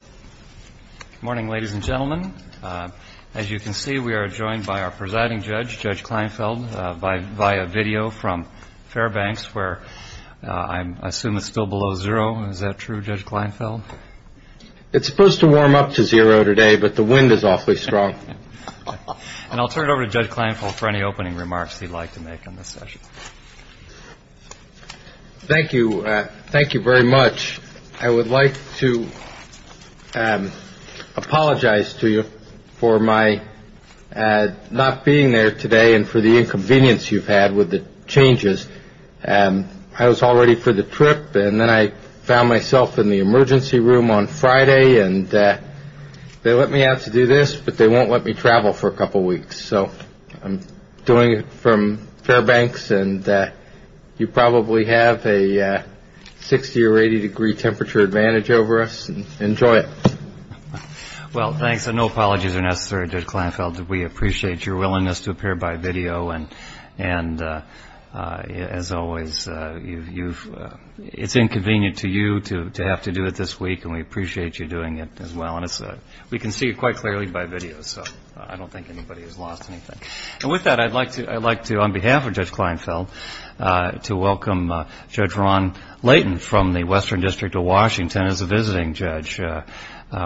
Good morning, ladies and gentlemen. As you can see, we are joined by our presiding judge, Judge Kleinfeld, via video from Fairbanks, where I assume it's still below zero. Is that true, Judge Kleinfeld? It's supposed to warm up to zero today, but the wind is awfully strong. And I'll turn it over to Judge Kleinfeld for any opening remarks he'd like to make on this session. Thank you. Thank you very much. I would like to apologize to you for my not being there today and for the inconvenience you've had with the changes. And I was all ready for the trip. And then I found myself in the emergency room on Friday. And they let me out to do this, but they won't let me travel for a couple of weeks. So I'm doing it from Fairbanks and you probably have a 60 or 80 degree temperature advantage over us. Enjoy it. Well, thanks. And no apologies are necessary, Judge Kleinfeld. We appreciate your willingness to appear by video. And and as always, you've it's inconvenient to you to have to do it this week. And we appreciate you doing it as well. We can see it quite clearly by video. So I don't think anybody has lost anything. And with that, I'd like to I'd like to on behalf of Judge Kleinfeld to welcome Judge Ron Layton from the Western District of Washington as a visiting judge.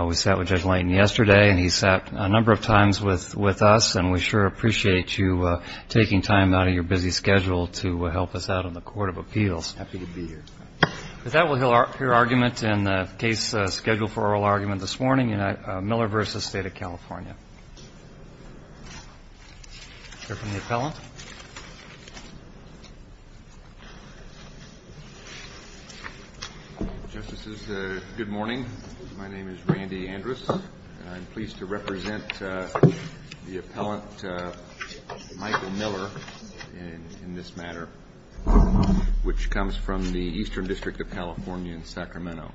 We sat with Judge Layton yesterday and he sat a number of times with with us. And we sure appreciate you taking time out of your busy schedule to help us out on the Court of Appeals. Happy to be here. With that, we'll hear your argument in the case scheduled for oral argument this morning. Miller versus State of California. Justices. Good morning. My name is Randy Andrus. I'm pleased to represent the appellant Michael Miller in this matter, which comes from the Eastern District of California in Sacramento.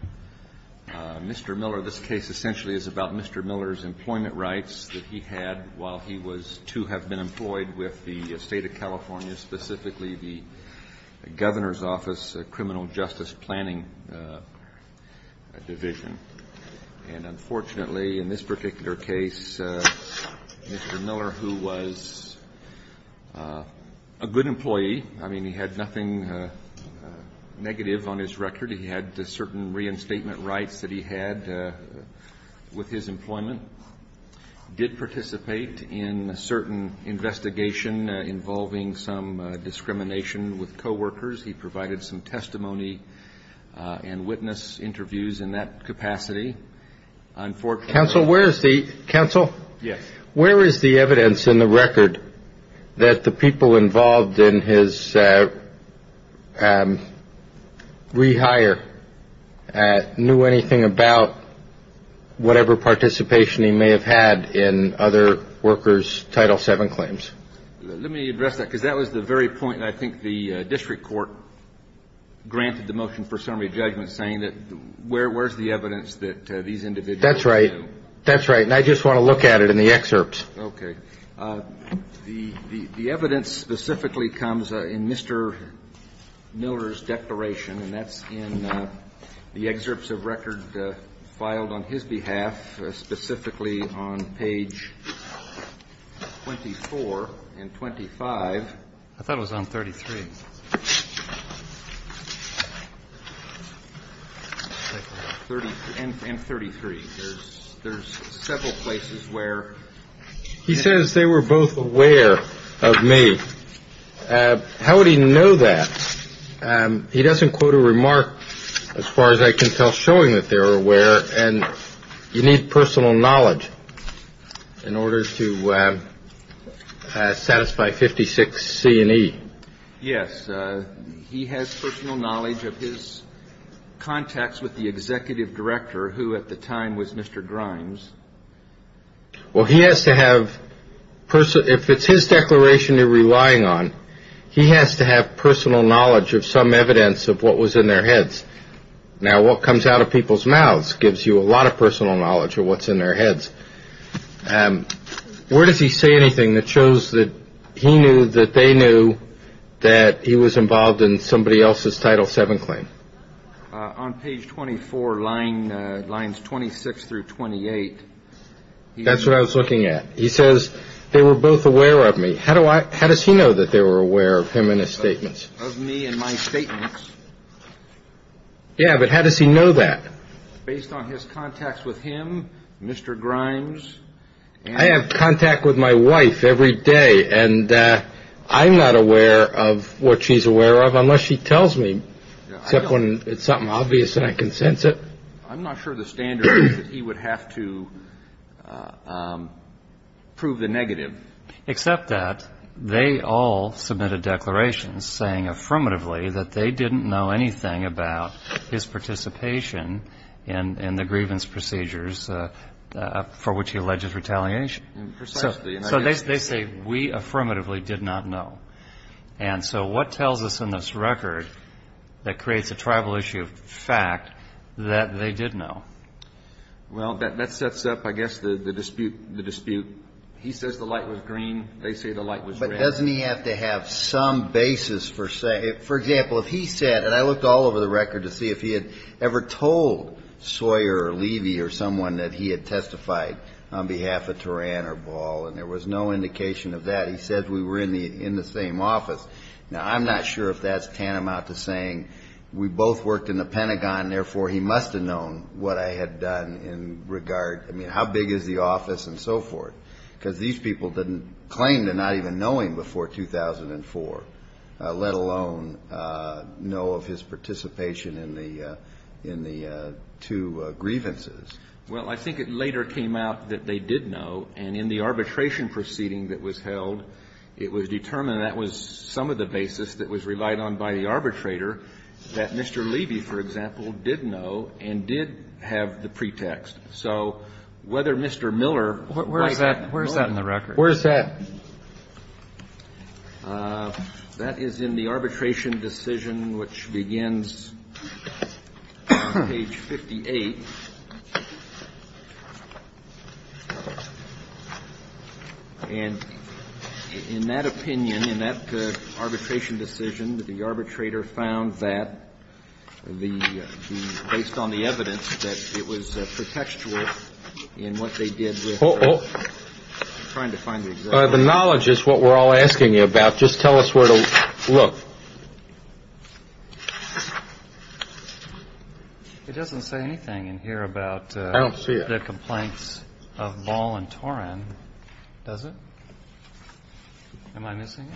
Mr. Miller, this case essentially is about Mr. Miller's employment rights that he had while he was to have been employed with the state of California, specifically the governor's office, criminal justice planning division. And unfortunately, in this particular case, Mr. Miller, who was a good employee. I mean, he had nothing negative on his record. He had certain reinstatement rights that he had with his employment, did participate in a certain investigation involving some discrimination with coworkers. He provided some testimony and witness interviews in that capacity. And for counsel, where is the counsel? Yes. Where is the evidence in the record that the people involved in his rehire knew anything about whatever participation he may have had in other workers? Title seven claims. Let me address that because that was the very point. I think the district court granted the motion for summary judgment saying that where where's the evidence that these individuals. That's right. That's right. And I just want to look at it in the excerpts. Okay. The evidence specifically comes in Mr. Miller's declaration, and that's in the excerpts of record filed on his behalf, specifically on page 24 and 25. I thought it was on 33. He says they were both aware of me. How would he know that? He doesn't quote a remark as far as I can tell, showing that they were aware. And you need personal knowledge in order to satisfy 56 C and E. Yes. He has personal knowledge of his contacts with the executive director, who at the time was Mr. Grimes. Well, he has to have person if it's his declaration you're relying on. He has to have personal knowledge of some evidence of what was in their heads. Now, what comes out of people's mouths gives you a lot of personal knowledge of what's in their heads. Where does he say anything that shows that he knew that they knew that he was involved in somebody else's Title VII claim? On page 24, lines 26 through 28. That's what I was looking at. He says they were both aware of me. How do I how does he know that they were aware of him in his statements? Of me and my statements. Yeah, but how does he know that? Based on his contacts with him, Mr. Grimes. I have contact with my wife every day, and I'm not aware of what she's aware of unless she tells me. Except when it's something obvious and I can sense it. I'm not sure the standard is that he would have to prove the negative. Except that they all submitted declarations saying affirmatively that they didn't know anything about his participation in the grievance procedures for which he alleges retaliation. Precisely. So they say we affirmatively did not know. And so what tells us in this record that creates a tribal issue of fact that they did know? Well, that sets up, I guess, the dispute. He says the light was green. They say the light was red. But doesn't he have to have some basis for say, for example, if he said, and I looked all over the record to see if he had ever told Sawyer or Levy or someone that he had testified on behalf of Turan or Ball. And there was no indication of that. He said we were in the in the same office. Now, I'm not sure if that's tantamount to saying we both worked in the Pentagon. Therefore, he must have known what I had done in regard. I mean, how big is the office and so forth? Because these people didn't claim to not even knowing before 2004, let alone know of his participation in the in the two grievances. Well, I think it later came out that they did know. And in the arbitration proceeding that was held, it was determined that was some of the basis that was relied on by the arbitrator that Mr. Levy, for example, did know and did have the pretext. So whether Mr. Miller. Where is that? Where is that in the record? Where is that? That is in the arbitration decision, which begins page 58. And in that opinion, in that arbitration decision, the arbitrator found that the based on the evidence that it was pretextual in what they did. Oh, trying to find the knowledge is what we're all asking you about. Just tell us where to look. It doesn't say anything in here about the complaints of Ball and Torin, does it? Am I missing?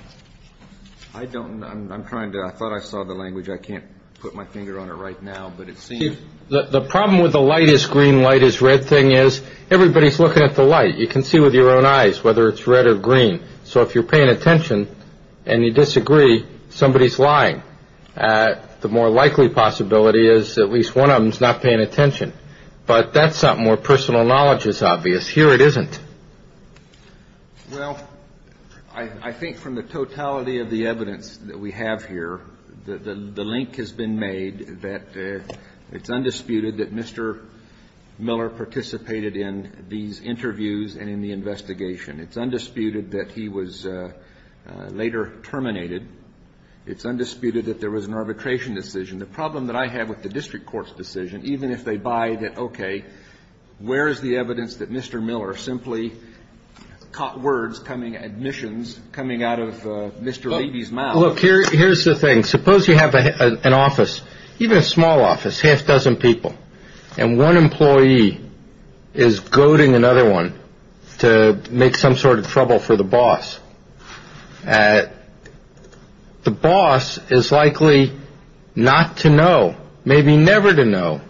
I don't know. I'm trying to. I thought I saw the language. I can't put my finger on it right now. The problem with the lightest green light is red thing is everybody's looking at the light. You can see with your own eyes whether it's red or green. So if you're paying attention and you disagree, somebody is lying. The more likely possibility is at least one of them is not paying attention. But that's something where personal knowledge is obvious. Here it isn't. Well, I think from the totality of the evidence that we have here, the link has been made that it's undisputed that Mr. Miller participated in these interviews and in the investigation. It's undisputed that he was later terminated. It's undisputed that there was an arbitration decision. The problem that I have with the district court's decision, even if they buy that, where is the evidence that Mr. Miller simply caught words coming admissions coming out of Mr. Look, here's the thing. Suppose you have an office, even a small office, half dozen people, and one employee is goading another one to make some sort of trouble for the boss. The boss is likely not to know, maybe never to know,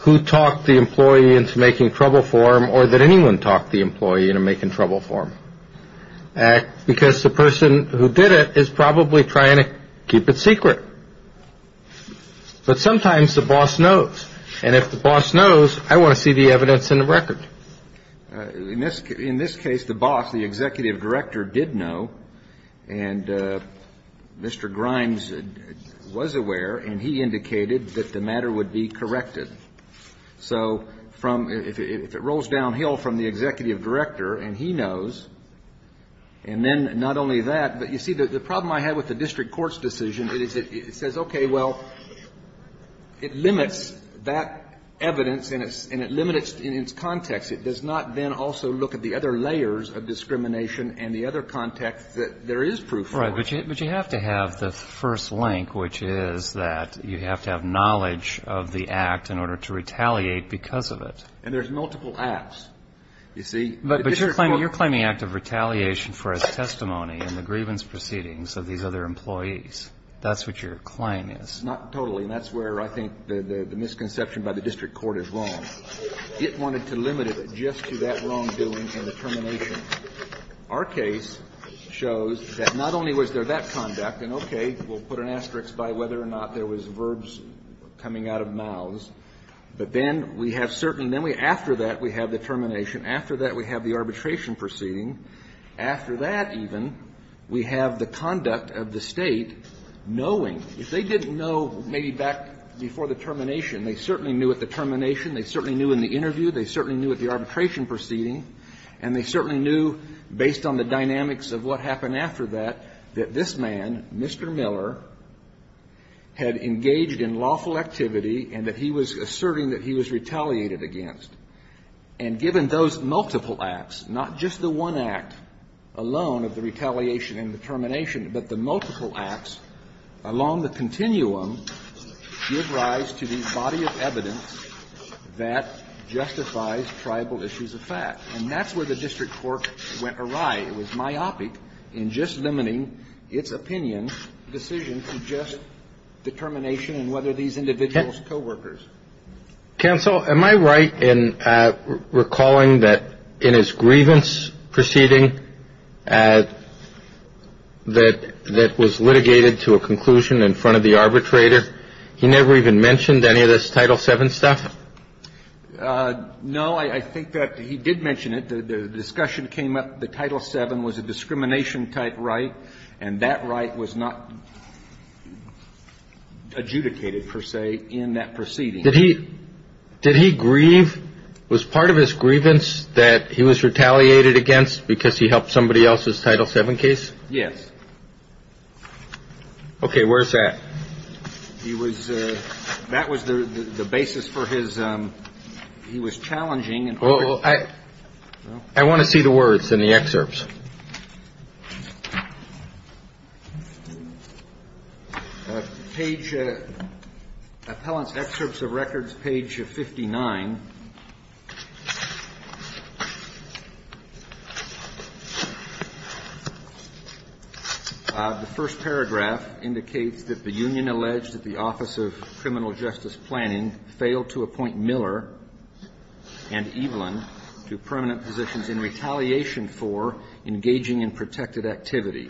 who talked the employee into making trouble for him or that anyone talked the employee into making trouble for him, because the person who did it is probably trying to keep it secret. But sometimes the boss knows. And if the boss knows, I want to see the evidence in the record. In this case, the boss, the executive director, did know, and Mr. Grimes was aware, and he indicated that the matter would be corrected. So if it rolls downhill from the executive director and he knows, and then not only that, but you see the problem I have with the district court's decision is it says, okay, well, it limits that evidence and it limits in its context. It does not then also look at the other layers of discrimination and the other context that there is proof for. Right. But you have to have the first link, which is that you have to have knowledge of the act in order to retaliate because of it. And there's multiple acts, you see. But you're claiming act of retaliation for his testimony in the grievance proceedings of these other employees. That's what your claim is. It's not totally, and that's where I think the misconception by the district court is wrong. It wanted to limit it just to that wrongdoing and the termination. Our case shows that not only was there that conduct, and, okay, we'll put an asterisk by whether or not there was verbs coming out of mouths, but then we have certain, then we, after that, we have the termination. After that, we have the arbitration proceeding. After that, even, we have the conduct of the state knowing. If they didn't know maybe back before the termination, they certainly knew at the termination. They certainly knew in the interview. They certainly knew at the arbitration proceeding. And they certainly knew, based on the dynamics of what happened after that, that this man, Mr. Miller, had engaged in lawful activity and that he was asserting that he was retaliated against. And given those multiple acts, not just the one act alone of the retaliation and the termination, but the multiple acts along the continuum give rise to the body of evidence that justifies tribal issues of fact. And that's where the district court went awry. It was myopic in just limiting its opinion decision to just determination and whether these individuals coworkers. Counsel, am I right in recalling that in his grievance proceeding that was litigated to a conclusion in front of the arbitrator, he never even mentioned any of this Title VII stuff? No. I think that he did mention it. The discussion came up the Title VII was a discrimination-type right, and that right was not adjudicated, per se, in that proceeding. Did he grieve? Was part of his grievance that he was retaliated against because he helped somebody else's Title VII case? Yes. Okay. Where's that? That was the basis for his he was challenging. I want to see the words in the excerpts. Page Appellant's Excerpts of Records, page 59. The first paragraph indicates that the union alleged that the Office of Criminal Justice Planning failed to appoint Miller and Evelyn to permanent positions in retaliation for engaging in protected activity.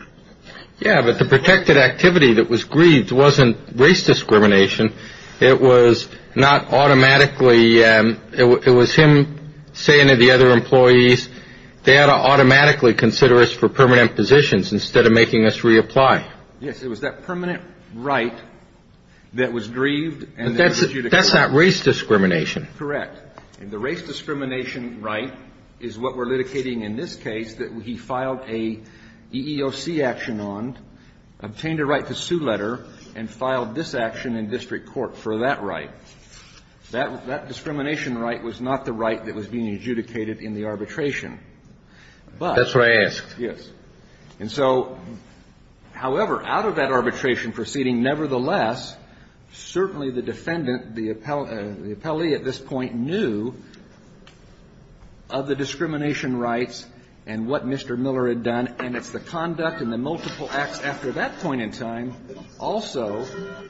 Yeah, but the protected activity that was grieved wasn't race discrimination. It was not automatically it was him saying to the other employees they ought to automatically consider us for permanent positions instead of making us reapply. Yes, it was that permanent right that was grieved and that was adjudicated. That's not race discrimination. Correct. And the race discrimination right is what we're litigating in this case that he filed a EEOC action on, obtained a right to sue letter, and filed this action in district court for that right. That discrimination right was not the right that was being adjudicated in the arbitration. That's what I asked. Yes. And so, however, out of that arbitration proceeding, nevertheless, certainly the defendant, the appellee at this point knew of the discrimination rights and what Mr. Miller had done, and it's the conduct and the multiple acts after that point in time also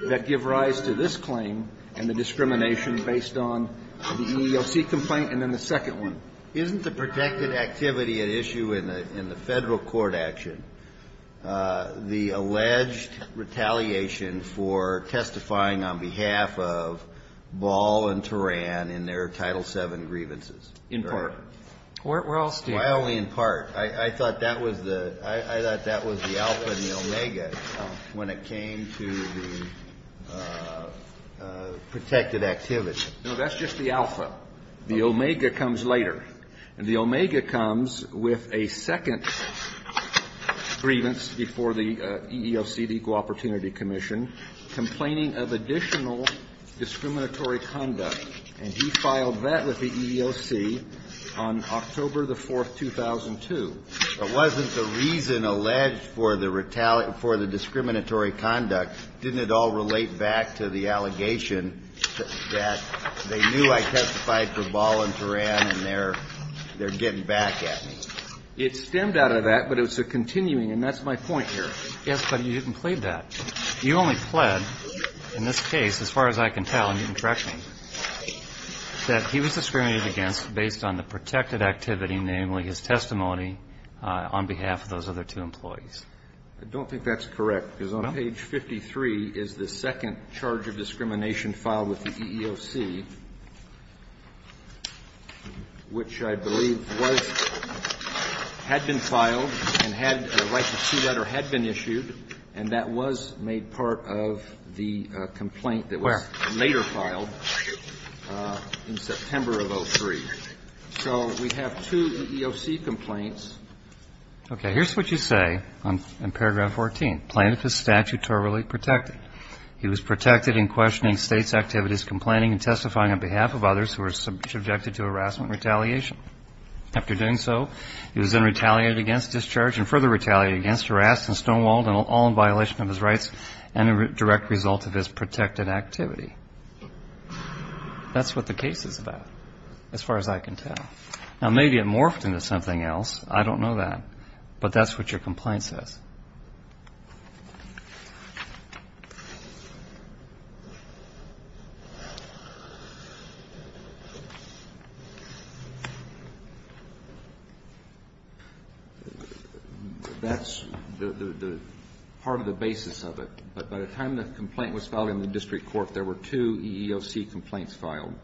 that give rise to this claim and the discrimination based on the EEOC complaint and then the second one. Isn't the protected activity an issue in the Federal court action? The alleged retaliation for testifying on behalf of Ball and Turan in their Title VII grievances. In part. We're all still. Why only in part? I thought that was the alpha and the omega when it came to the protected activity. No, that's just the alpha. The omega comes later. And the omega comes with a second grievance before the EEOC, the Equal Opportunity Commission, complaining of additional discriminatory conduct, and he filed that with the EEOC on October the 4th, 2002. It wasn't the reason alleged for the retaliation, for the discriminatory conduct. Didn't it all relate back to the allegation that they knew I testified for Ball and Turan and they're getting back at me. It stemmed out of that, but it was a continuing, and that's my point here. Yes, but you didn't plead that. You only pled in this case, as far as I can tell, and you can correct me, that he was discriminated against based on the protected activity, namely his testimony on behalf of those other two employees. I don't think that's correct because on page 53 is the second charge of discrimination that was filed with the EEOC, which I believe was, had been filed and had a right to see that or had been issued, and that was made part of the complaint that was later filed in September of 2003. So we have two EEOC complaints. Okay. Here's what you say in paragraph 14. Plaintiff is statutorily protected. He was protected in questioning state's activities, complaining and testifying on behalf of others who were subjected to harassment and retaliation. After doing so, he was then retaliated against, discharged and further retaliated against, harassed and stonewalled, all in violation of his rights and a direct result of his protected activity. That's what the case is about, as far as I can tell. Now, maybe it morphed into something else. I don't know that. But that's what your complaint says. That's part of the basis of it. But by the time the complaint was filed in the district court, there were two EEOC complaints filed.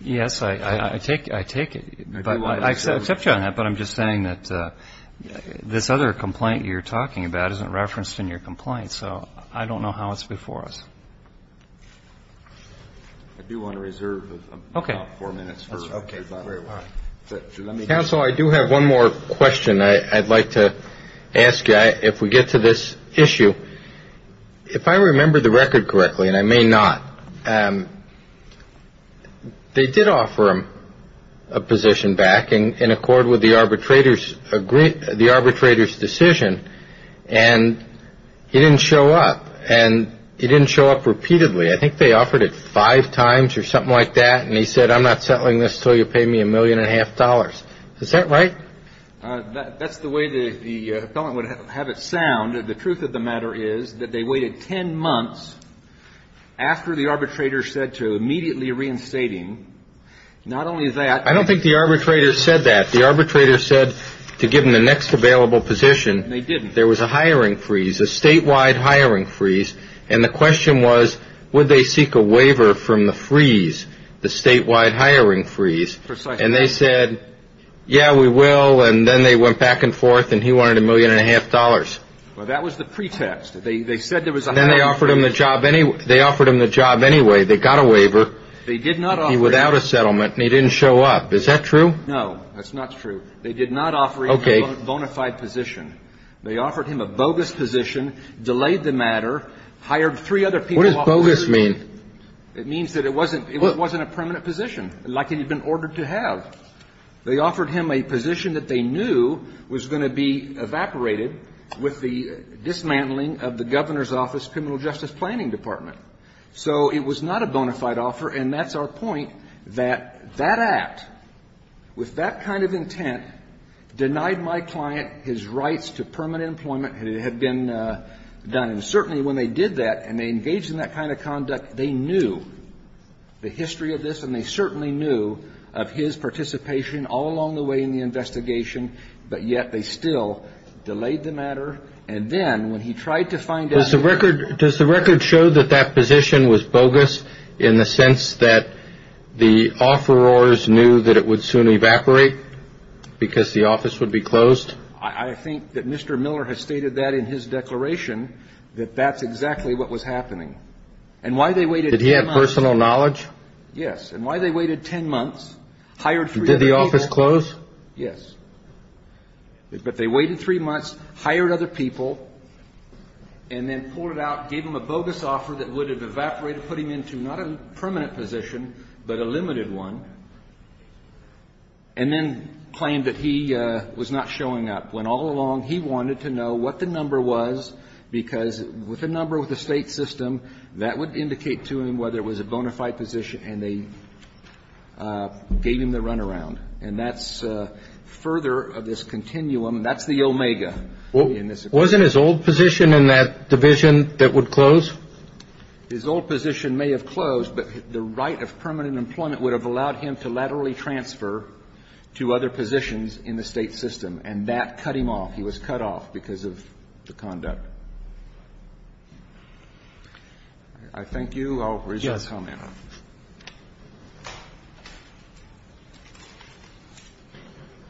Yes, I take it. I accept you on that, but I'm just saying that this other complaint you're talking about isn't referenced in your complaint. So I don't know how it's before us. I do want to reserve the top four minutes. Okay. Counsel, I do have one more question I'd like to ask you. If we get to this issue, if I remember the record correctly, and I may not, they did offer him a position back in accord with the arbitrator's decision, and he didn't show up. And he didn't show up repeatedly. I think they offered it five times or something like that. And he said, I'm not settling this until you pay me a million and a half dollars. Is that right? That's the way the appellant would have it sound. The truth of the matter is that they waited ten months after the arbitrator said to immediately reinstating. Not only that. I don't think the arbitrator said that. The arbitrator said to give him the next available position. They didn't. There was a hiring freeze, a statewide hiring freeze. And the question was, would they seek a waiver from the freeze, the statewide hiring freeze? Precisely. And they said, yeah, we will. And then they went back and forth, and he wanted a million and a half dollars. Well, that was the pretext. And then they offered him the job anyway. They got a waiver. They did not offer him. Without a settlement. And he didn't show up. Is that true? No, that's not true. They did not offer him a bona fide position. Okay. They offered him a bogus position, delayed the matter, hired three other people. What does bogus mean? It means that it wasn't a permanent position, like it had been ordered to have. They offered him a position that they knew was going to be evaporated with the dismantling of the governor's office criminal justice planning department. So it was not a bona fide offer. And that's our point, that that act, with that kind of intent, denied my client his rights to permanent employment. It had been done. And certainly when they did that, and they engaged in that kind of conduct, they knew the history of this, and they certainly knew of his participation all along the way in the investigation, but yet they still delayed the matter. And then when he tried to find out the reason. Does the record show that that position was bogus in the sense that the offerors knew that it would soon evaporate because the office would be closed? I think that Mr. Miller has stated that in his declaration, that that's exactly what was happening. And why they waited 10 months. Did he have personal knowledge? Yes. And why they waited 10 months, hired three other people. Did the office close? Yes. But they waited three months, hired other people, and then pulled it out, gave him a bogus offer that would have evaporated, put him into not a permanent position, but a limited one, and then claimed that he was not showing up. Went all along. He wanted to know what the number was, because with a number with the state system, that would indicate to him whether it was a bona fide position, and they gave him the runaround. And that's further of this continuum. That's the omega. Wasn't his old position in that division that would close? His old position may have closed, but the right of permanent employment would have allowed him to laterally transfer to other positions in the state system. And that cut him off. He was cut off because of the conduct. I thank you. I'll raise your comment.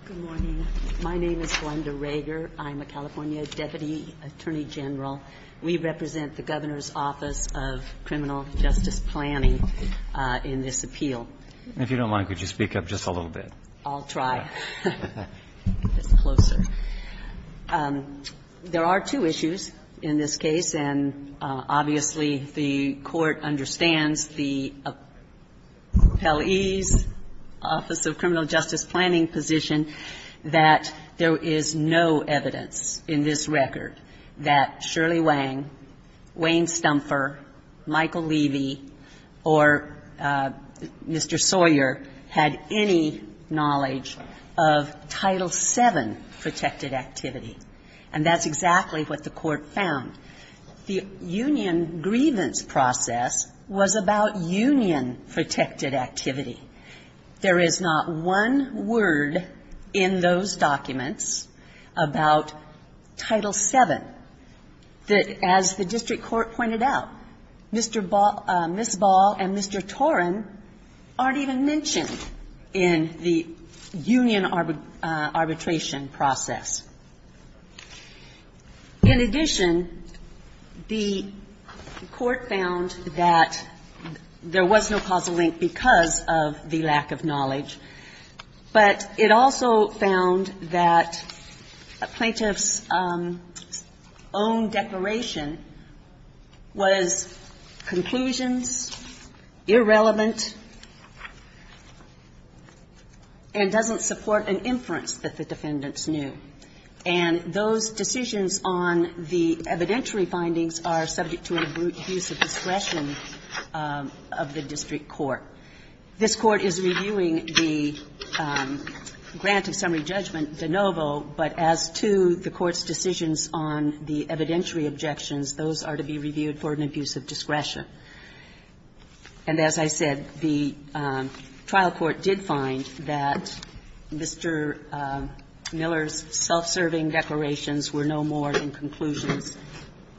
Good morning. My name is Glenda Rager. I'm a California deputy attorney general. We represent the Governor's Office of Criminal Justice Planning in this appeal. And if you don't mind, could you speak up just a little bit? I'll try. It's closer. There are two issues in this case, and obviously the Court understands the appellee's office of criminal justice planning position, that there is no evidence in this record that Shirley Wang, Wayne Stumfer, Michael Levy, or Mr. Sawyer had any knowledge of Title VII protected activity. And that's exactly what the Court found. The union grievance process was about union protected activity. There is not one word in those documents about Title VII that, as the district arbitration process. In addition, the Court found that there was no causal link because of the lack of knowledge. But it also found that a plaintiff's own declaration was conclusions, irrelevant, and doesn't support an inference that the defendants knew. And those decisions on the evidentiary findings are subject to an abuse of discretion of the district court. This Court is reviewing the grant of summary judgment de novo, but as to the Court's decisions on the evidentiary objections, those are to be reviewed for an abuse of discretion. And as I said, the trial court did find that Mr. Miller's self-serving declarations were no more than conclusions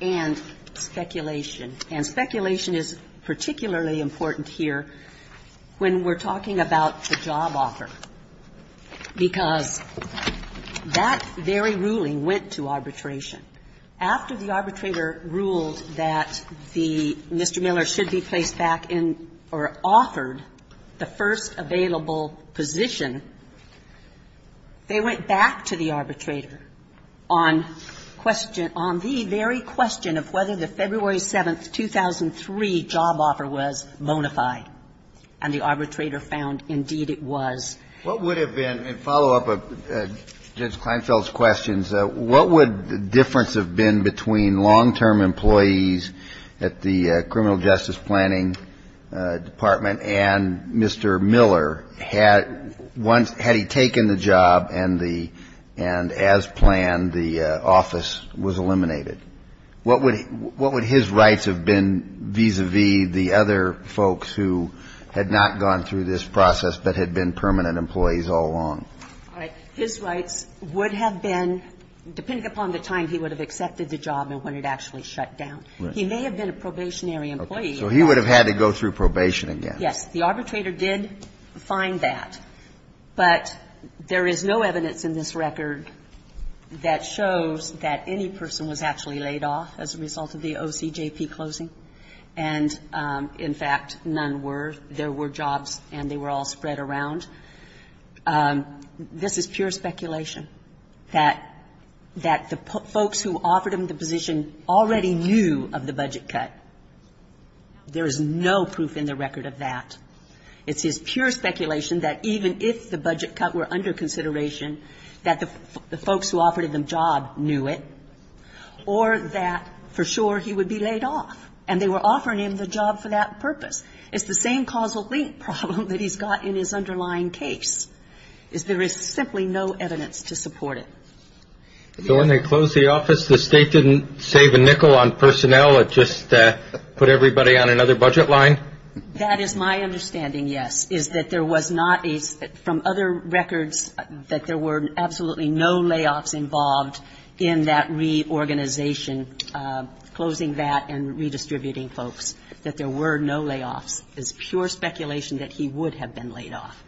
and speculation. And speculation is particularly important here when we're talking about the job offer, because that very ruling went to arbitration. After the arbitrator ruled that the Mr. Miller should be placed back in or offered the first available position, they went back to the arbitrator on question of whether the February 7, 2003 job offer was bona fide. And the arbitrator found, indeed, it was. What would have been, in follow-up to Judge Kleinfeld's questions, what would the difference have been between long-term employees at the criminal justice planning department and Mr. Miller had he taken the job and, as planned, the office was eliminated? What would his rights have been vis-à-vis the other folks who had not gone through this process but had been permanent employees all along? All right. His rights would have been, depending upon the time he would have accepted the job and when it actually shut down. He may have been a probationary employee. So he would have had to go through probation again. Yes. The arbitrator did find that. But there is no evidence in this record that shows that any person was actually laid off as a result of the OCJP closing. And, in fact, none were. There were jobs and they were all spread around. This is pure speculation, that the folks who offered him the position already knew of the budget cut. There is no proof in the record of that. It's his pure speculation that even if the budget cut were under consideration, that the folks who offered him the job knew it or that, for sure, he would be laid off. And they were offering him the job for that purpose. It's the same causal link problem that he's got in his underlying case, is there is simply no evidence to support it. So when they closed the office, the State didn't save a nickel on personnel, it just put everybody on another budget line? That is my understanding, yes, is that there was not a, from other records, that there were absolutely no layoffs involved in that reorganization, closing that and redistributing folks. And that's what I'm trying to get at here, is that there was no layoffs involved There is no evidence that there were no layoffs. It's pure speculation that he would have been laid off.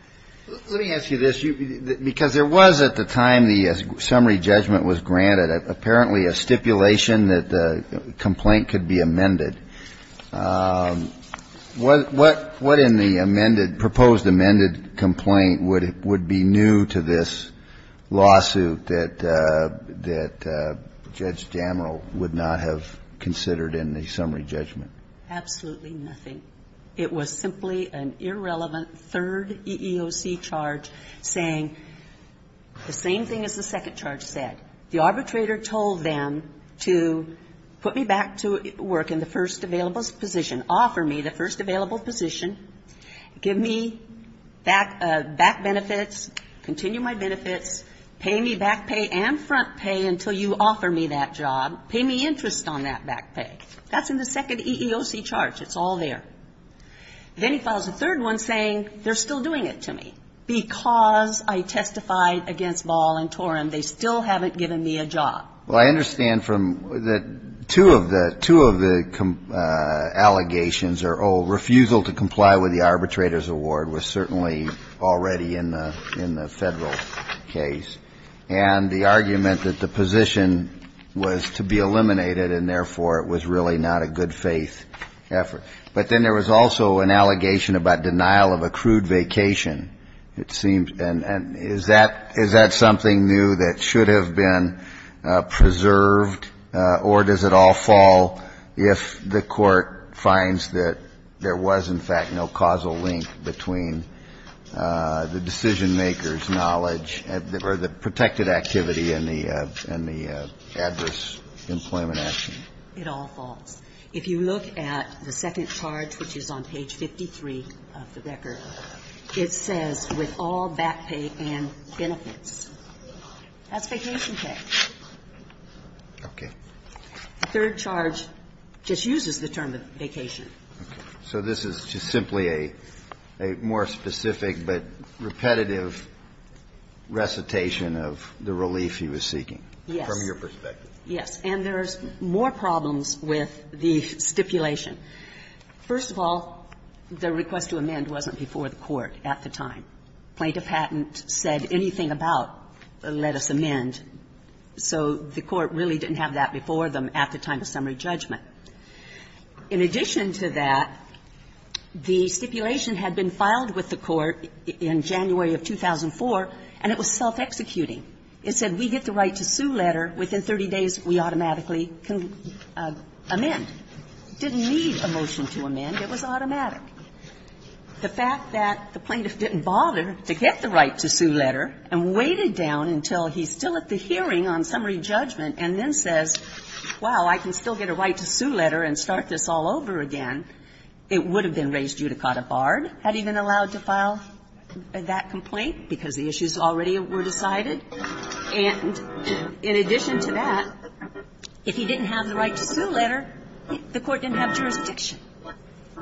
Let me ask you this. Because there was, at the time the summary judgment was granted, apparently a stipulation that the complaint could be amended. What in the amended, proposed amended complaint would be new to this lawsuit that Judge Jamrel would not have considered in the summary judgment? Absolutely nothing. It was simply an irrelevant third EEOC charge saying the same thing as the second charge said. The arbitrator told them to put me back to work in the first available position, offer me the first available position, give me back benefits, continue my benefits, pay me back pay and front pay until you offer me that job, pay me interest on that back pay. That's in the second EEOC charge. It's all there. Then he files a third one saying they're still doing it to me because I testified against Ball and Torim. They still haven't given me a job. Well, I understand from the two of the, two of the allegations are, oh, refusal to comply with the arbitrator's award was certainly already in the, in the Federal case. And the argument that the position was to be eliminated and therefore it was really not a good faith effort. But then there was also an allegation about denial of accrued vacation. And it seems, and is that, is that something new that should have been preserved or does it all fall if the Court finds that there was, in fact, no causal link between the decisionmaker's knowledge or the protected activity and the, and the adverse employment action? It all falls. If you look at the second charge, which is on page 53 of the record, it says, with all back pay and benefits. That's vacation pay. Okay. The third charge just uses the term vacation. So this is just simply a, a more specific but repetitive recitation of the relief he was seeking. Yes. From your perspective. Yes. And there's more problems with the stipulation. First of all, the request to amend wasn't before the Court at the time. Plaintiff hadn't said anything about, let us amend. So the Court really didn't have that before them at the time of summary judgment. In addition to that, the stipulation had been filed with the Court in January of 2004, and it was self-executing. It said, we get the right to sue letter. Within 30 days, we automatically can amend. Didn't need a motion to amend. It was automatic. The fact that the plaintiff didn't bother to get the right to sue letter and waited down until he's still at the hearing on summary judgment and then says, wow, I can still get a right to sue letter and start this all over again, it would have been raised judicata barred, had he been allowed to file that complaint because the issues already were decided. And in addition to that, if he didn't have the right to sue letter, the Court didn't have jurisdiction.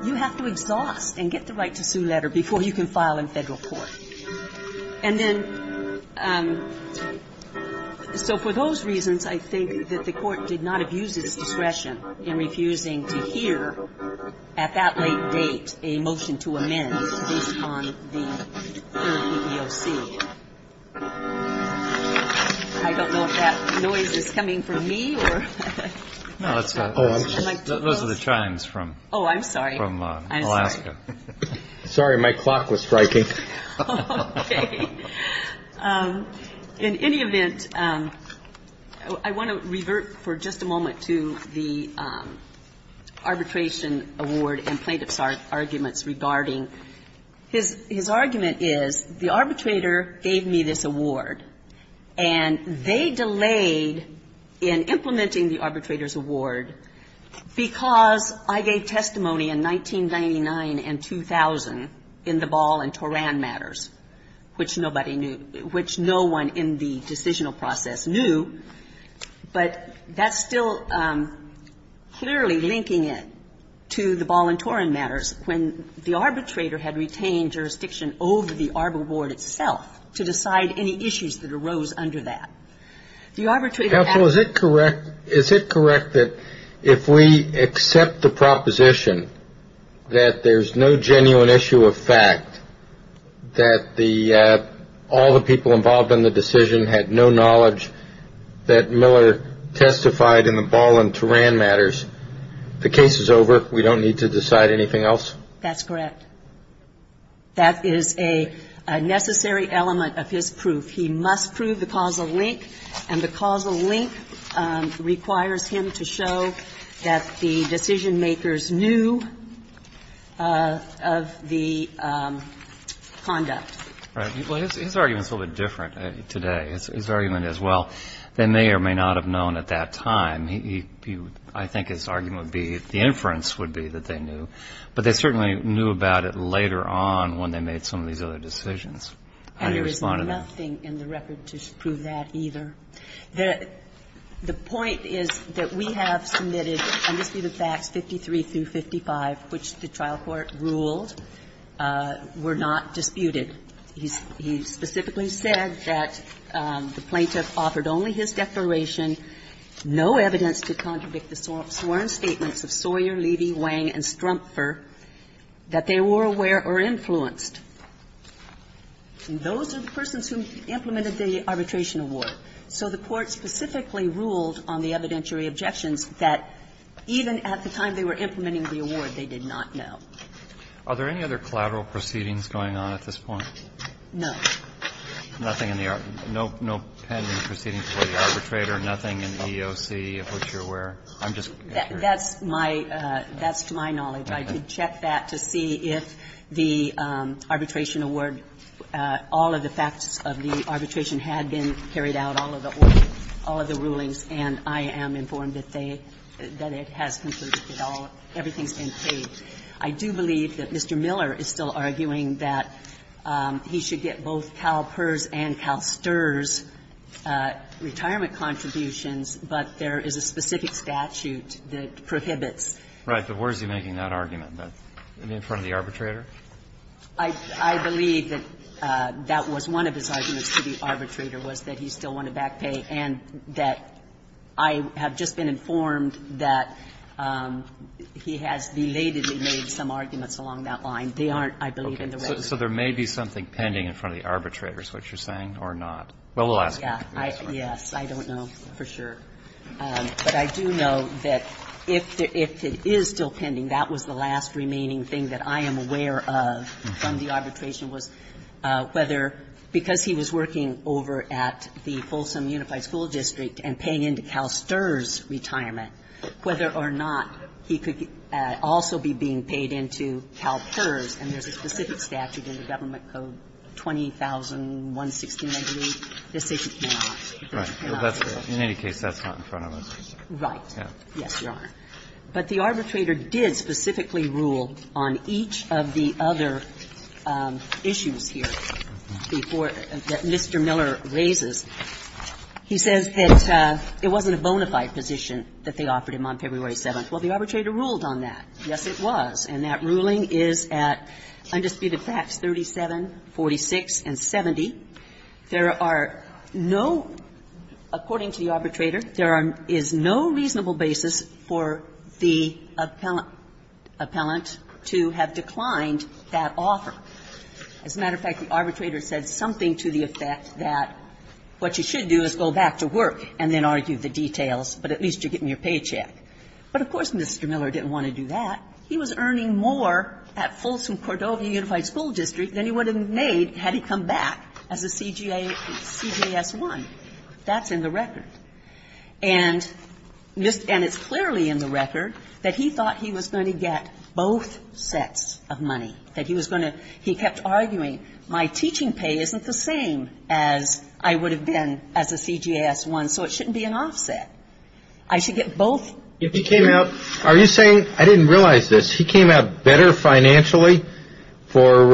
You have to exhaust and get the right to sue letter before you can file in Federal Court. And then so for those reasons, I think that the Court did not have used its discretion to hear at that late date a motion to amend based on the third PEOC. I don't know if that noise is coming from me. Those are the chimes from Alaska. Oh, I'm sorry. Sorry, my clock was striking. Okay. In any event, I want to revert for just a moment to the arbitration award and plaintiff's arguments regarding. His argument is the arbitrator gave me this award, and they delayed in implementing the arbitrator's award because I gave testimony in 1999 and 2000 in the Ball and Toran matters, which nobody knew, which no one in the decisional process knew. But that's still clearly linking it to the Ball and Toran matters when the arbitrator had retained jurisdiction over the ARB award itself to decide any issues that arose under that. The arbitrator. Counsel, is it correct that if we accept the proposition that there's no genuine issue of fact that all the people involved in the decision had no knowledge that Miller testified in the Ball and Toran matters, the case is over, we don't need to decide anything else? That's correct. That is a necessary element of his proof. He must prove the causal link, and the causal link requires him to show that the decision was based on the facts and not on the conduct. Right. Well, his argument is a little bit different today. His argument is, well, they may or may not have known at that time. He – I think his argument would be, the inference would be that they knew. But they certainly knew about it later on when they made some of these other decisions. How do you respond to that? And there is nothing in the record to prove that either. The point is that we have submitted undisputed facts 53 through 55, which the trial court ruled were not disputed. He specifically said that the plaintiff offered only his declaration, no evidence to contradict the sworn statements of Sawyer, Levy, Wang, and Strumpfer, that they were aware or influenced. And those are the persons who implemented the arbitration award. So the court specifically ruled on the evidentiary objections that even at the time they were implementing the award, they did not know. Are there any other collateral proceedings going on at this point? No. Nothing in the – no pending proceedings for the arbitrator, nothing in EEOC of which you're aware? That's my – that's to my knowledge. I did check that to see if the arbitration award, all of the facts of the arbitration had been carried out, all of the orders, all of the rulings, and I am informed that they – that it has concluded that all – everything's been paid. I do believe that Mr. Miller is still arguing that he should get both CalPERS and CalSTRS retirement contributions, but there is a specific statute that prohibits. Right. But where is he making that argument? In front of the arbitrator? I believe that that was one of his arguments to the arbitrator, was that he still wanted back pay, and that I have just been informed that he has belatedly made some arguments along that line. They aren't, I believe, in the record. Okay. So there may be something pending in front of the arbitrator is what you're saying Well, we'll ask him. Yes. I don't know for sure. But I do know that if it is still pending, that was the last remaining thing that I am aware of from the arbitration was whether, because he was working over at the Folsom Unified School District and paying into CalSTRS retirement, whether or not he could also be being paid into CalPERS. And there's a specific statute in the government code, 20,116, I believe. This is not. In any case, that's not in front of us. Right. Yes, Your Honor. But the arbitrator did specifically rule on each of the other issues here that Mr. Miller raises. He says that it wasn't a bona fide position that they offered him on February 7th. Well, the arbitrator ruled on that. Yes, it was. And that ruling is at undisputed facts 37, 46, and 70. There are no, according to the arbitrator, there is no reasonable basis for the appellant to have declined that offer. As a matter of fact, the arbitrator said something to the effect that what you should do is go back to work and then argue the details, but at least you're getting your paycheck. But of course, Mr. Miller didn't want to do that. He was earning more at Folsom Cordova Unified School District than he would have made had he come back as a CGS1. That's in the record. And it's clearly in the record that he thought he was going to get both sets of money, that he was going to he kept arguing, my teaching pay isn't the same as I would have been as a CGS1, so it shouldn't be an offset. I should get both. Are you saying, I didn't realize this, he came out better financially for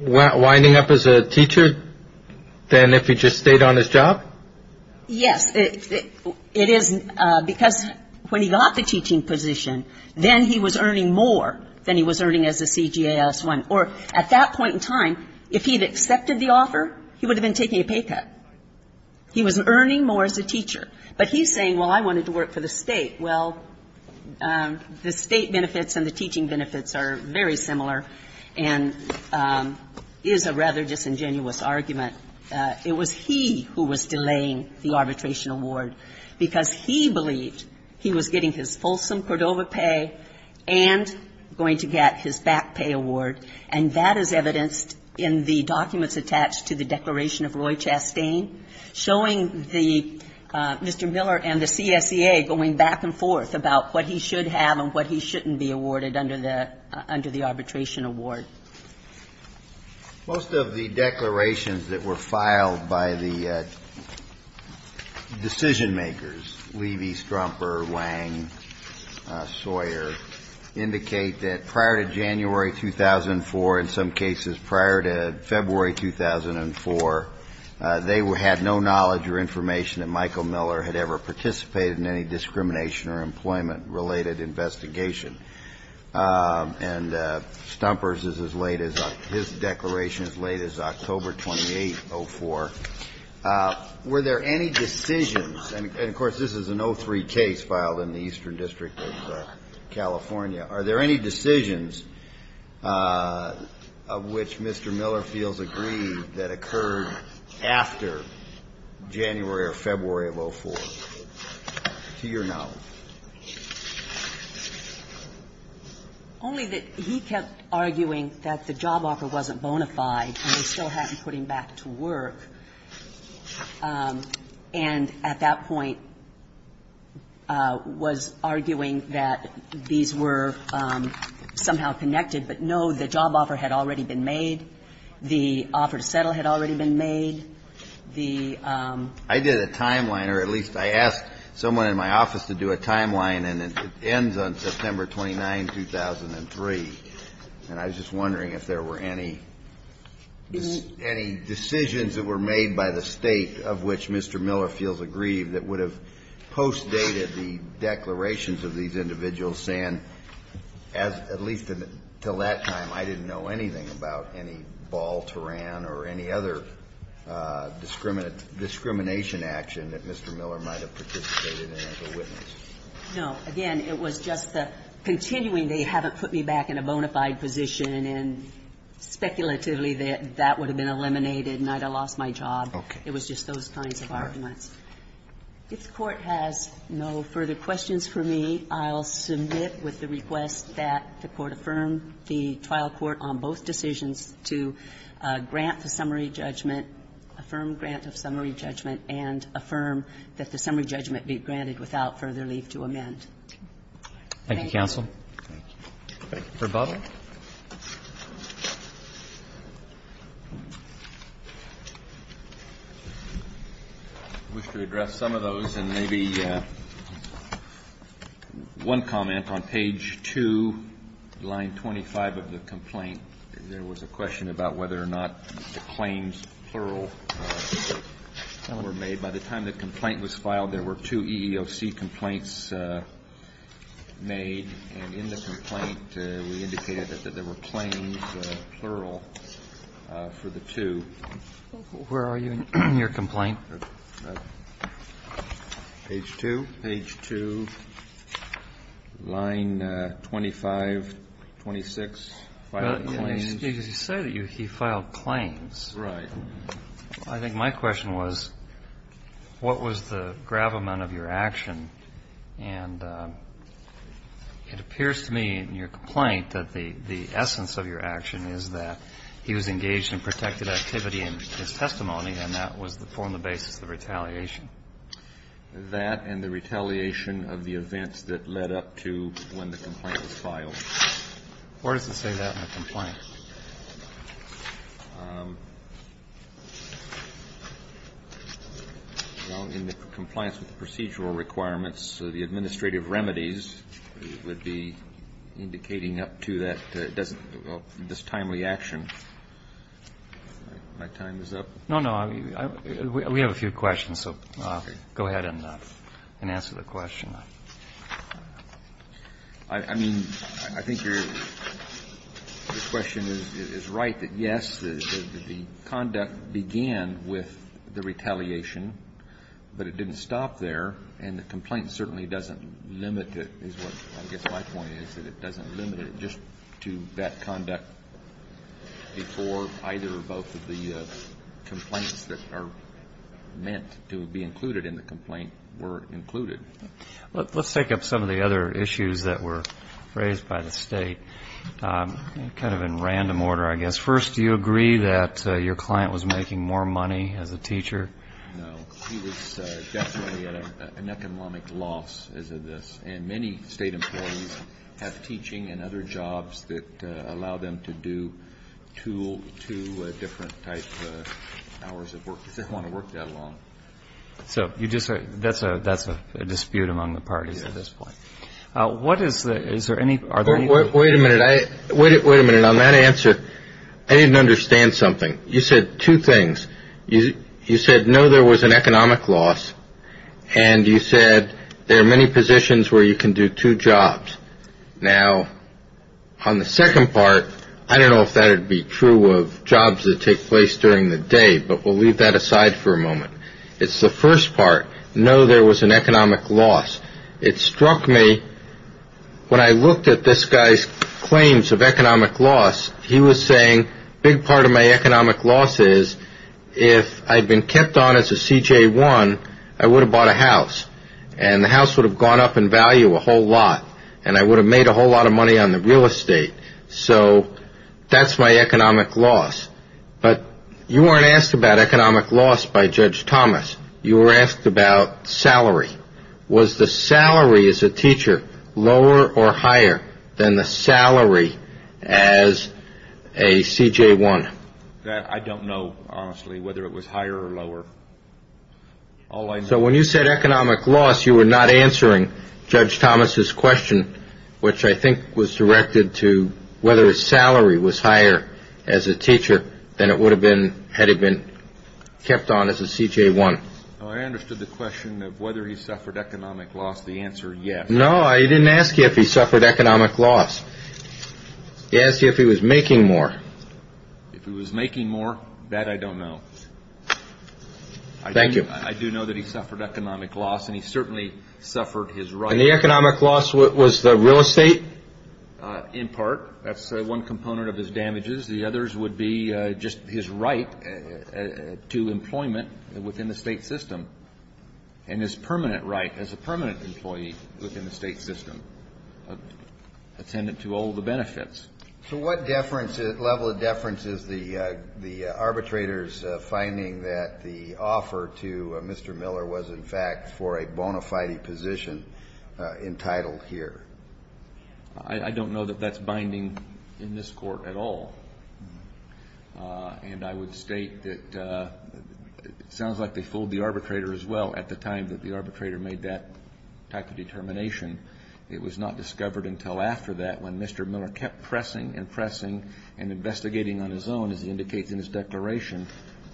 winding up as a teacher than if he just stayed on his job? Yes. It is because when he got the teaching position, then he was earning more than he was earning as a CGS1. Or at that point in time, if he had accepted the offer, he would have been taking a pay cut. He was earning more as a teacher. But he's saying, well, I wanted to work for the state. Well, the state benefits and the teaching benefits are very similar and is a rather disingenuous argument. It was he who was delaying the arbitration award because he believed he was getting his Folsom Cordova pay and going to get his back pay award. And that is evidenced in the documents attached to the declaration of Roy Chastain, showing the Mr. Miller and the CSEA going back and forth about what he should have and what he shouldn't be awarded under the arbitration award. Most of the declarations that were filed by the decision makers, Levy, Strumper, Wang, Sawyer, indicate that prior to January 2004, in some cases prior to February 2004, they had no knowledge or information that Michael Miller had ever participated in any discrimination or employment-related investigation. And Stumper's is as late as his declaration is as late as October 28, 2004. Were there any decisions, and, of course, this is an 03 case filed in the Eastern District of California. Are there any decisions of which Mr. Miller feels aggrieved that occurred after January or February of 04, to your knowledge? Only that he kept arguing that the job offer wasn't bona fide and they still hadn't put him back to work. And at that point was arguing that these were somehow connected. But, no, the job offer had already been made. The offer to settle had already been made. The ---- I did a timeline, or at least I asked someone in my office to do a timeline, and it ends on September 29, 2003. And I was just wondering if there were any decisions that were made by the State of which Mr. Miller feels aggrieved that would have postdated the declarations of these individuals saying, at least until that time, I didn't know anything about any ball terrain or any other discrimination action that Mr. Miller might have participated in as a witness. No. Again, it was just the continuing they haven't put me back in a bona fide position and speculatively that that would have been eliminated and I'd have lost my job. It was just those kinds of arguments. If the Court has no further questions for me, I'll submit with the request that the Court affirm the trial court on both decisions to grant the summary judgment, affirm grant of summary judgment, and affirm that the summary judgment be granted without further leave to amend. Thank you. Thank you, counsel. Thank you. Thank you. Thank you. For Butler? I wish to address some of those and maybe one comment on page 2, line 25 of the complaint. There were two EEOC complaints made and in the complaint we indicated that there were claims, plural, for the two. Where are you in your complaint? Page 2. Page 2, line 25, 26, filed claims. Because you say that he filed claims. Right. I think my question was, what was the gravamen of your action? And it appears to me in your complaint that the essence of your action is that he was engaged in protected activity in his testimony and that was the form, the basis of the retaliation. That and the retaliation of the events that led up to when the complaint was filed. Where does it say that in the complaint? Well, in the compliance with the procedural requirements, the administrative remedies would be indicating up to that, this timely action. My time is up? No, no. We have a few questions, so go ahead and answer the question. I mean, I think your question is right that, yes, the conduct began with the retaliation, but it didn't stop there, and the complaint certainly doesn't limit it, is what I guess my point is, that it doesn't limit it just to that conduct before either or both of the complaints that are meant to be included in the complaint were included. Let's take up some of the other issues that were raised by the State, kind of in random order, I guess. First, do you agree that your client was making more money as a teacher? No. He was definitely at an economic loss as of this, and many State employees have teaching and other jobs that allow them to do two different types of hours of work because they don't want to work that long. So that's a dispute among the parties at this point. What is the – is there any – are there any – Wait a minute. Wait a minute. On that answer, I didn't understand something. You said two things. You said, no, there was an economic loss, and you said there are many positions where you can do two jobs. Now, on the second part, I don't know if that would be true of jobs that take place during the day, but we'll leave that aside for a moment. It's the first part, no, there was an economic loss. It struck me, when I looked at this guy's claims of economic loss, he was saying, a big part of my economic loss is if I'd been kept on as a CJ1, I would have bought a house, and the house would have gone up in value a whole lot, and I would have made a whole lot of money on the real estate. So that's my economic loss. But you weren't asked about economic loss by Judge Thomas. You were asked about salary. Was the salary as a teacher lower or higher than the salary as a CJ1? That I don't know, honestly, whether it was higher or lower. All I know – So when you said economic loss, you were not answering Judge Thomas's question, which I think was directed to whether his salary was higher as a teacher than it would have been had he been kept on as a CJ1. I understood the question of whether he suffered economic loss. The answer, yes. No, I didn't ask you if he suffered economic loss. I asked you if he was making more. If he was making more, that I don't know. Thank you. I do know that he suffered economic loss, and he certainly suffered his right – And the economic loss was the real estate? In part. That's one component of his damages. The others would be just his right to employment within the state system, and his permanent right as a permanent employee within the state system, attendant to all the benefits. So what level of deference is the arbitrator's finding that the offer to Mr. Miller was, in fact, for a bona fide position entitled here? I don't know that that's binding in this court at all. And I would state that it sounds like they fooled the arbitrator as well at the time that the arbitrator made that type of determination. It was not discovered until after that when Mr. Miller kept pressing and pressing and investigating on his own, as he indicates in his declaration,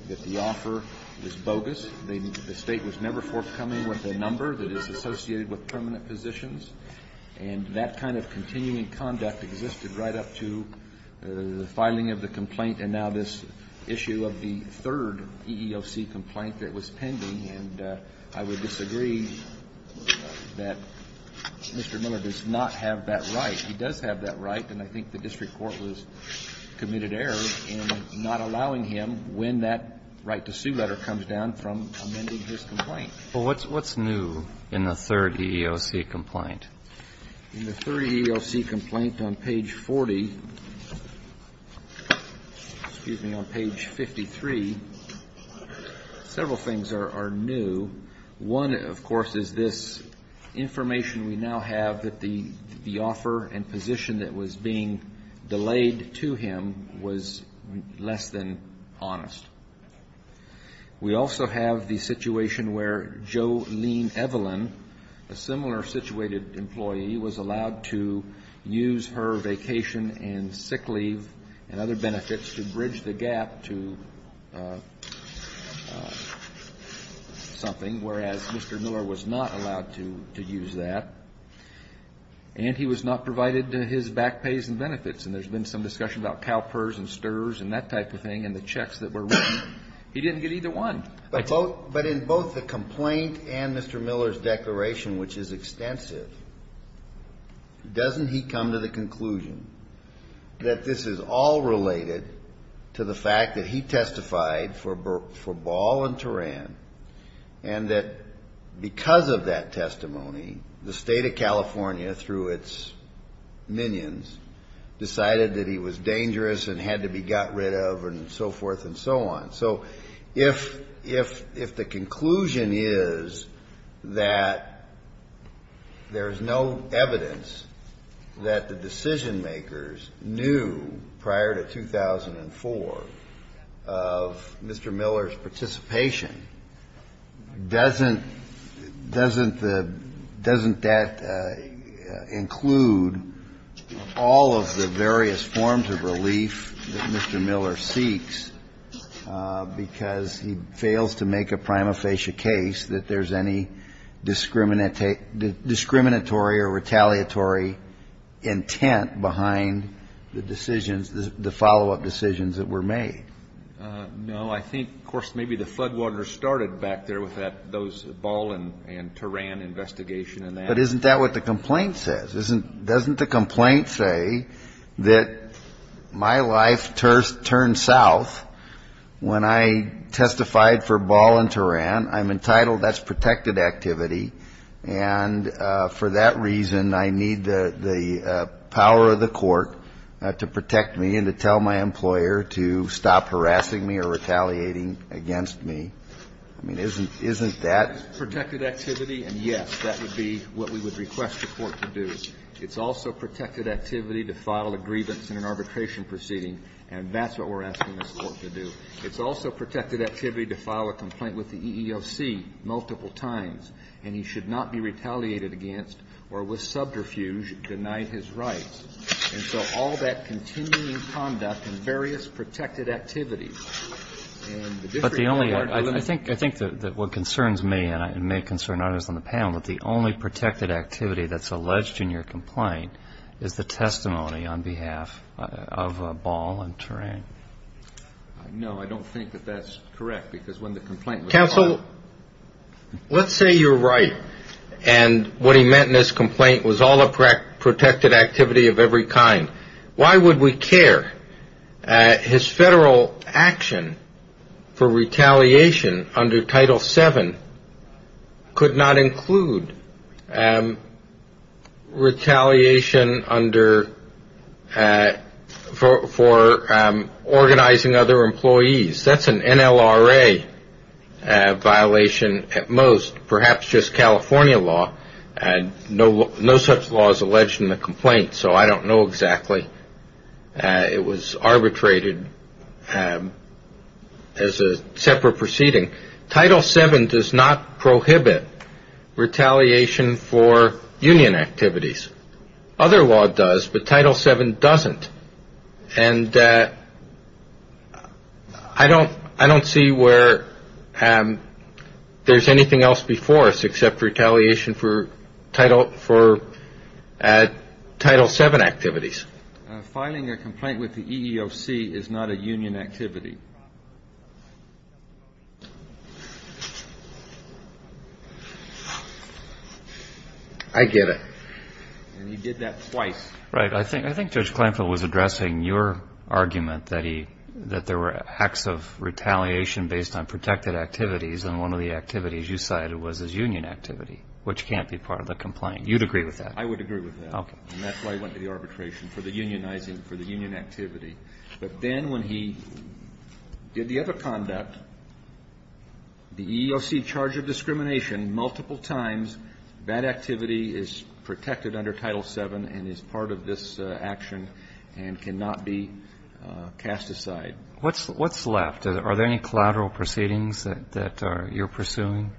that the offer was bogus. The state was never forthcoming with a number that is associated with permanent positions. And that kind of continuing conduct existed right up to the filing of the complaint and now this issue of the third EEOC complaint that was pending. And I would disagree that Mr. Miller does not have that right. He does have that right, and I think the district court was committed error in not allowing him when that right-to-sue letter comes down from amending his complaint. But what's new in the third EEOC complaint? In the third EEOC complaint on page 40, excuse me, on page 53, several things are new. One, of course, is this information we now have that the offer and position that was being delayed to him was less than honest. We also have the situation where Jolene Evelyn, a similar situated employee, was allowed to use her vacation and sick leave and other benefits to bridge the gap to something, whereas Mr. Miller was not allowed to use that. And he was not provided his back pays and benefits, and there's been some discussion about CalPERS and STRS and that type of thing and the checks that were written. He didn't get either one. But in both the complaint and Mr. Miller's declaration, which is extensive, doesn't he come to the conclusion that this is all related to the fact that he testified for Ball and Turan and that because of that testimony, the State of California, through its minions, decided that he was dangerous and had to be got rid of and so forth and so on? So if the conclusion is that there's no evidence that the decision-makers knew prior to 2004 of Mr. Miller, doesn't that include all of the various forms of relief that Mr. Miller seeks because he fails to make a prima facie case that there's any discriminatory or retaliatory intent behind the decisions, the follow-up decisions that were made? No. I think, of course, maybe the floodwaters started back there with those Ball and Turan investigation and that. But isn't that what the complaint says? Doesn't the complaint say that my life turned south when I testified for Ball and Turan? I'm entitled. That's protected activity. And for that reason, I need the power of the court to protect me and to tell my employer to stop harassing me or retaliating against me. I mean, isn't that protected activity? And, yes, that would be what we would request the court to do. It's also protected activity to file a grievance in an arbitration proceeding. And that's what we're asking this Court to do. It's also protected activity to file a complaint with the EEOC multiple times, and he should not be retaliated against or, with subterfuge, denied his rights. And so all that continuing conduct and various protected activities and the different But the only thing I think that what concerns me and may concern others on the panel, that the only protected activity that's alleged in your complaint is the testimony on behalf of Ball and Turan. No, I don't think that that's correct, because when the complaint was filed Counsel, let's say you're right, and what he meant in his complaint was all a protected activity of every kind. Why would we care? His federal action for retaliation under Title VII could not include retaliation for organizing other employees. That's an NLRA violation at most, perhaps just California law. And no such law is alleged in the complaint, so I don't know exactly. It was arbitrated as a separate proceeding. Title VII does not prohibit retaliation for union activities. Other law does, but Title VII doesn't. And I don't see where there's anything else before us except retaliation for Title VII activities. Filing a complaint with the EEOC is not a union activity. I get it. And he did that twice. Right. I think Judge Kleinfeld was addressing your argument that there were acts of retaliation based on protected activities, and one of the activities you cited was his union activity, which can't be part of the complaint. You'd agree with that? I would agree with that. Okay. And that's why he went to the arbitration, for the unionizing, for the union activity. But then when he did the other conduct, the EEOC charge of discrimination multiple times, that activity is protected under Title VII and is part of this action and cannot be cast aside. What's left? Are there any collateral proceedings that you're pursuing?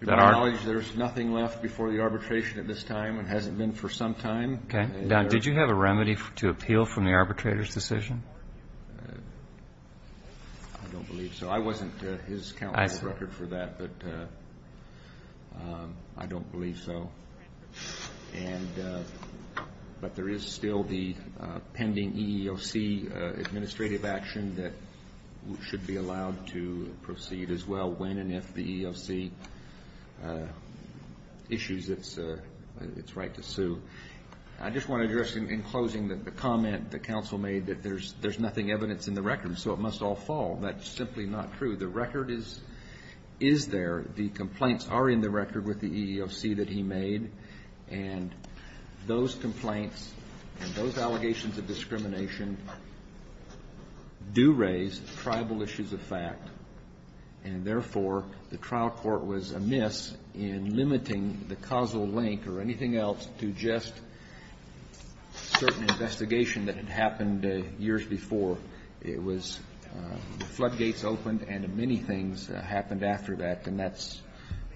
To my knowledge, there's nothing left before the arbitration at this time. It hasn't been for some time. Okay. Now, did you have a remedy to appeal from the arbitrator's decision? I don't believe so. I wasn't his counsel to record for that, but I don't believe so. But there is still the pending EEOC administrative action that should be allowed to proceed as well, when and if the EEOC issues its right to sue. I just want to address in closing the comment that counsel made that there's nothing evidence in the record, so it must all fall. That's simply not true. The record is there. The complaints are in the record with the EEOC that he made, and those complaints and those allegations of discrimination do raise tribal issues of fact, and therefore the trial court was amiss in limiting the causal link or anything else to just certain investigation that had happened years before. So it was the floodgates opened and many things happened after that, and that's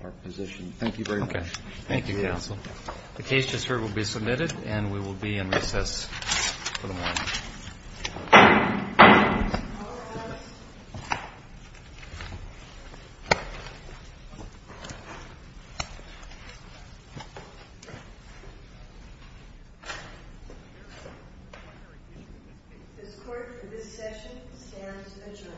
our position. Thank you very much. Okay. Thank you, counsel. The case just heard will be submitted, and we will be in recess for the morning. All rise. This court for this session stands adjourned. Thank you.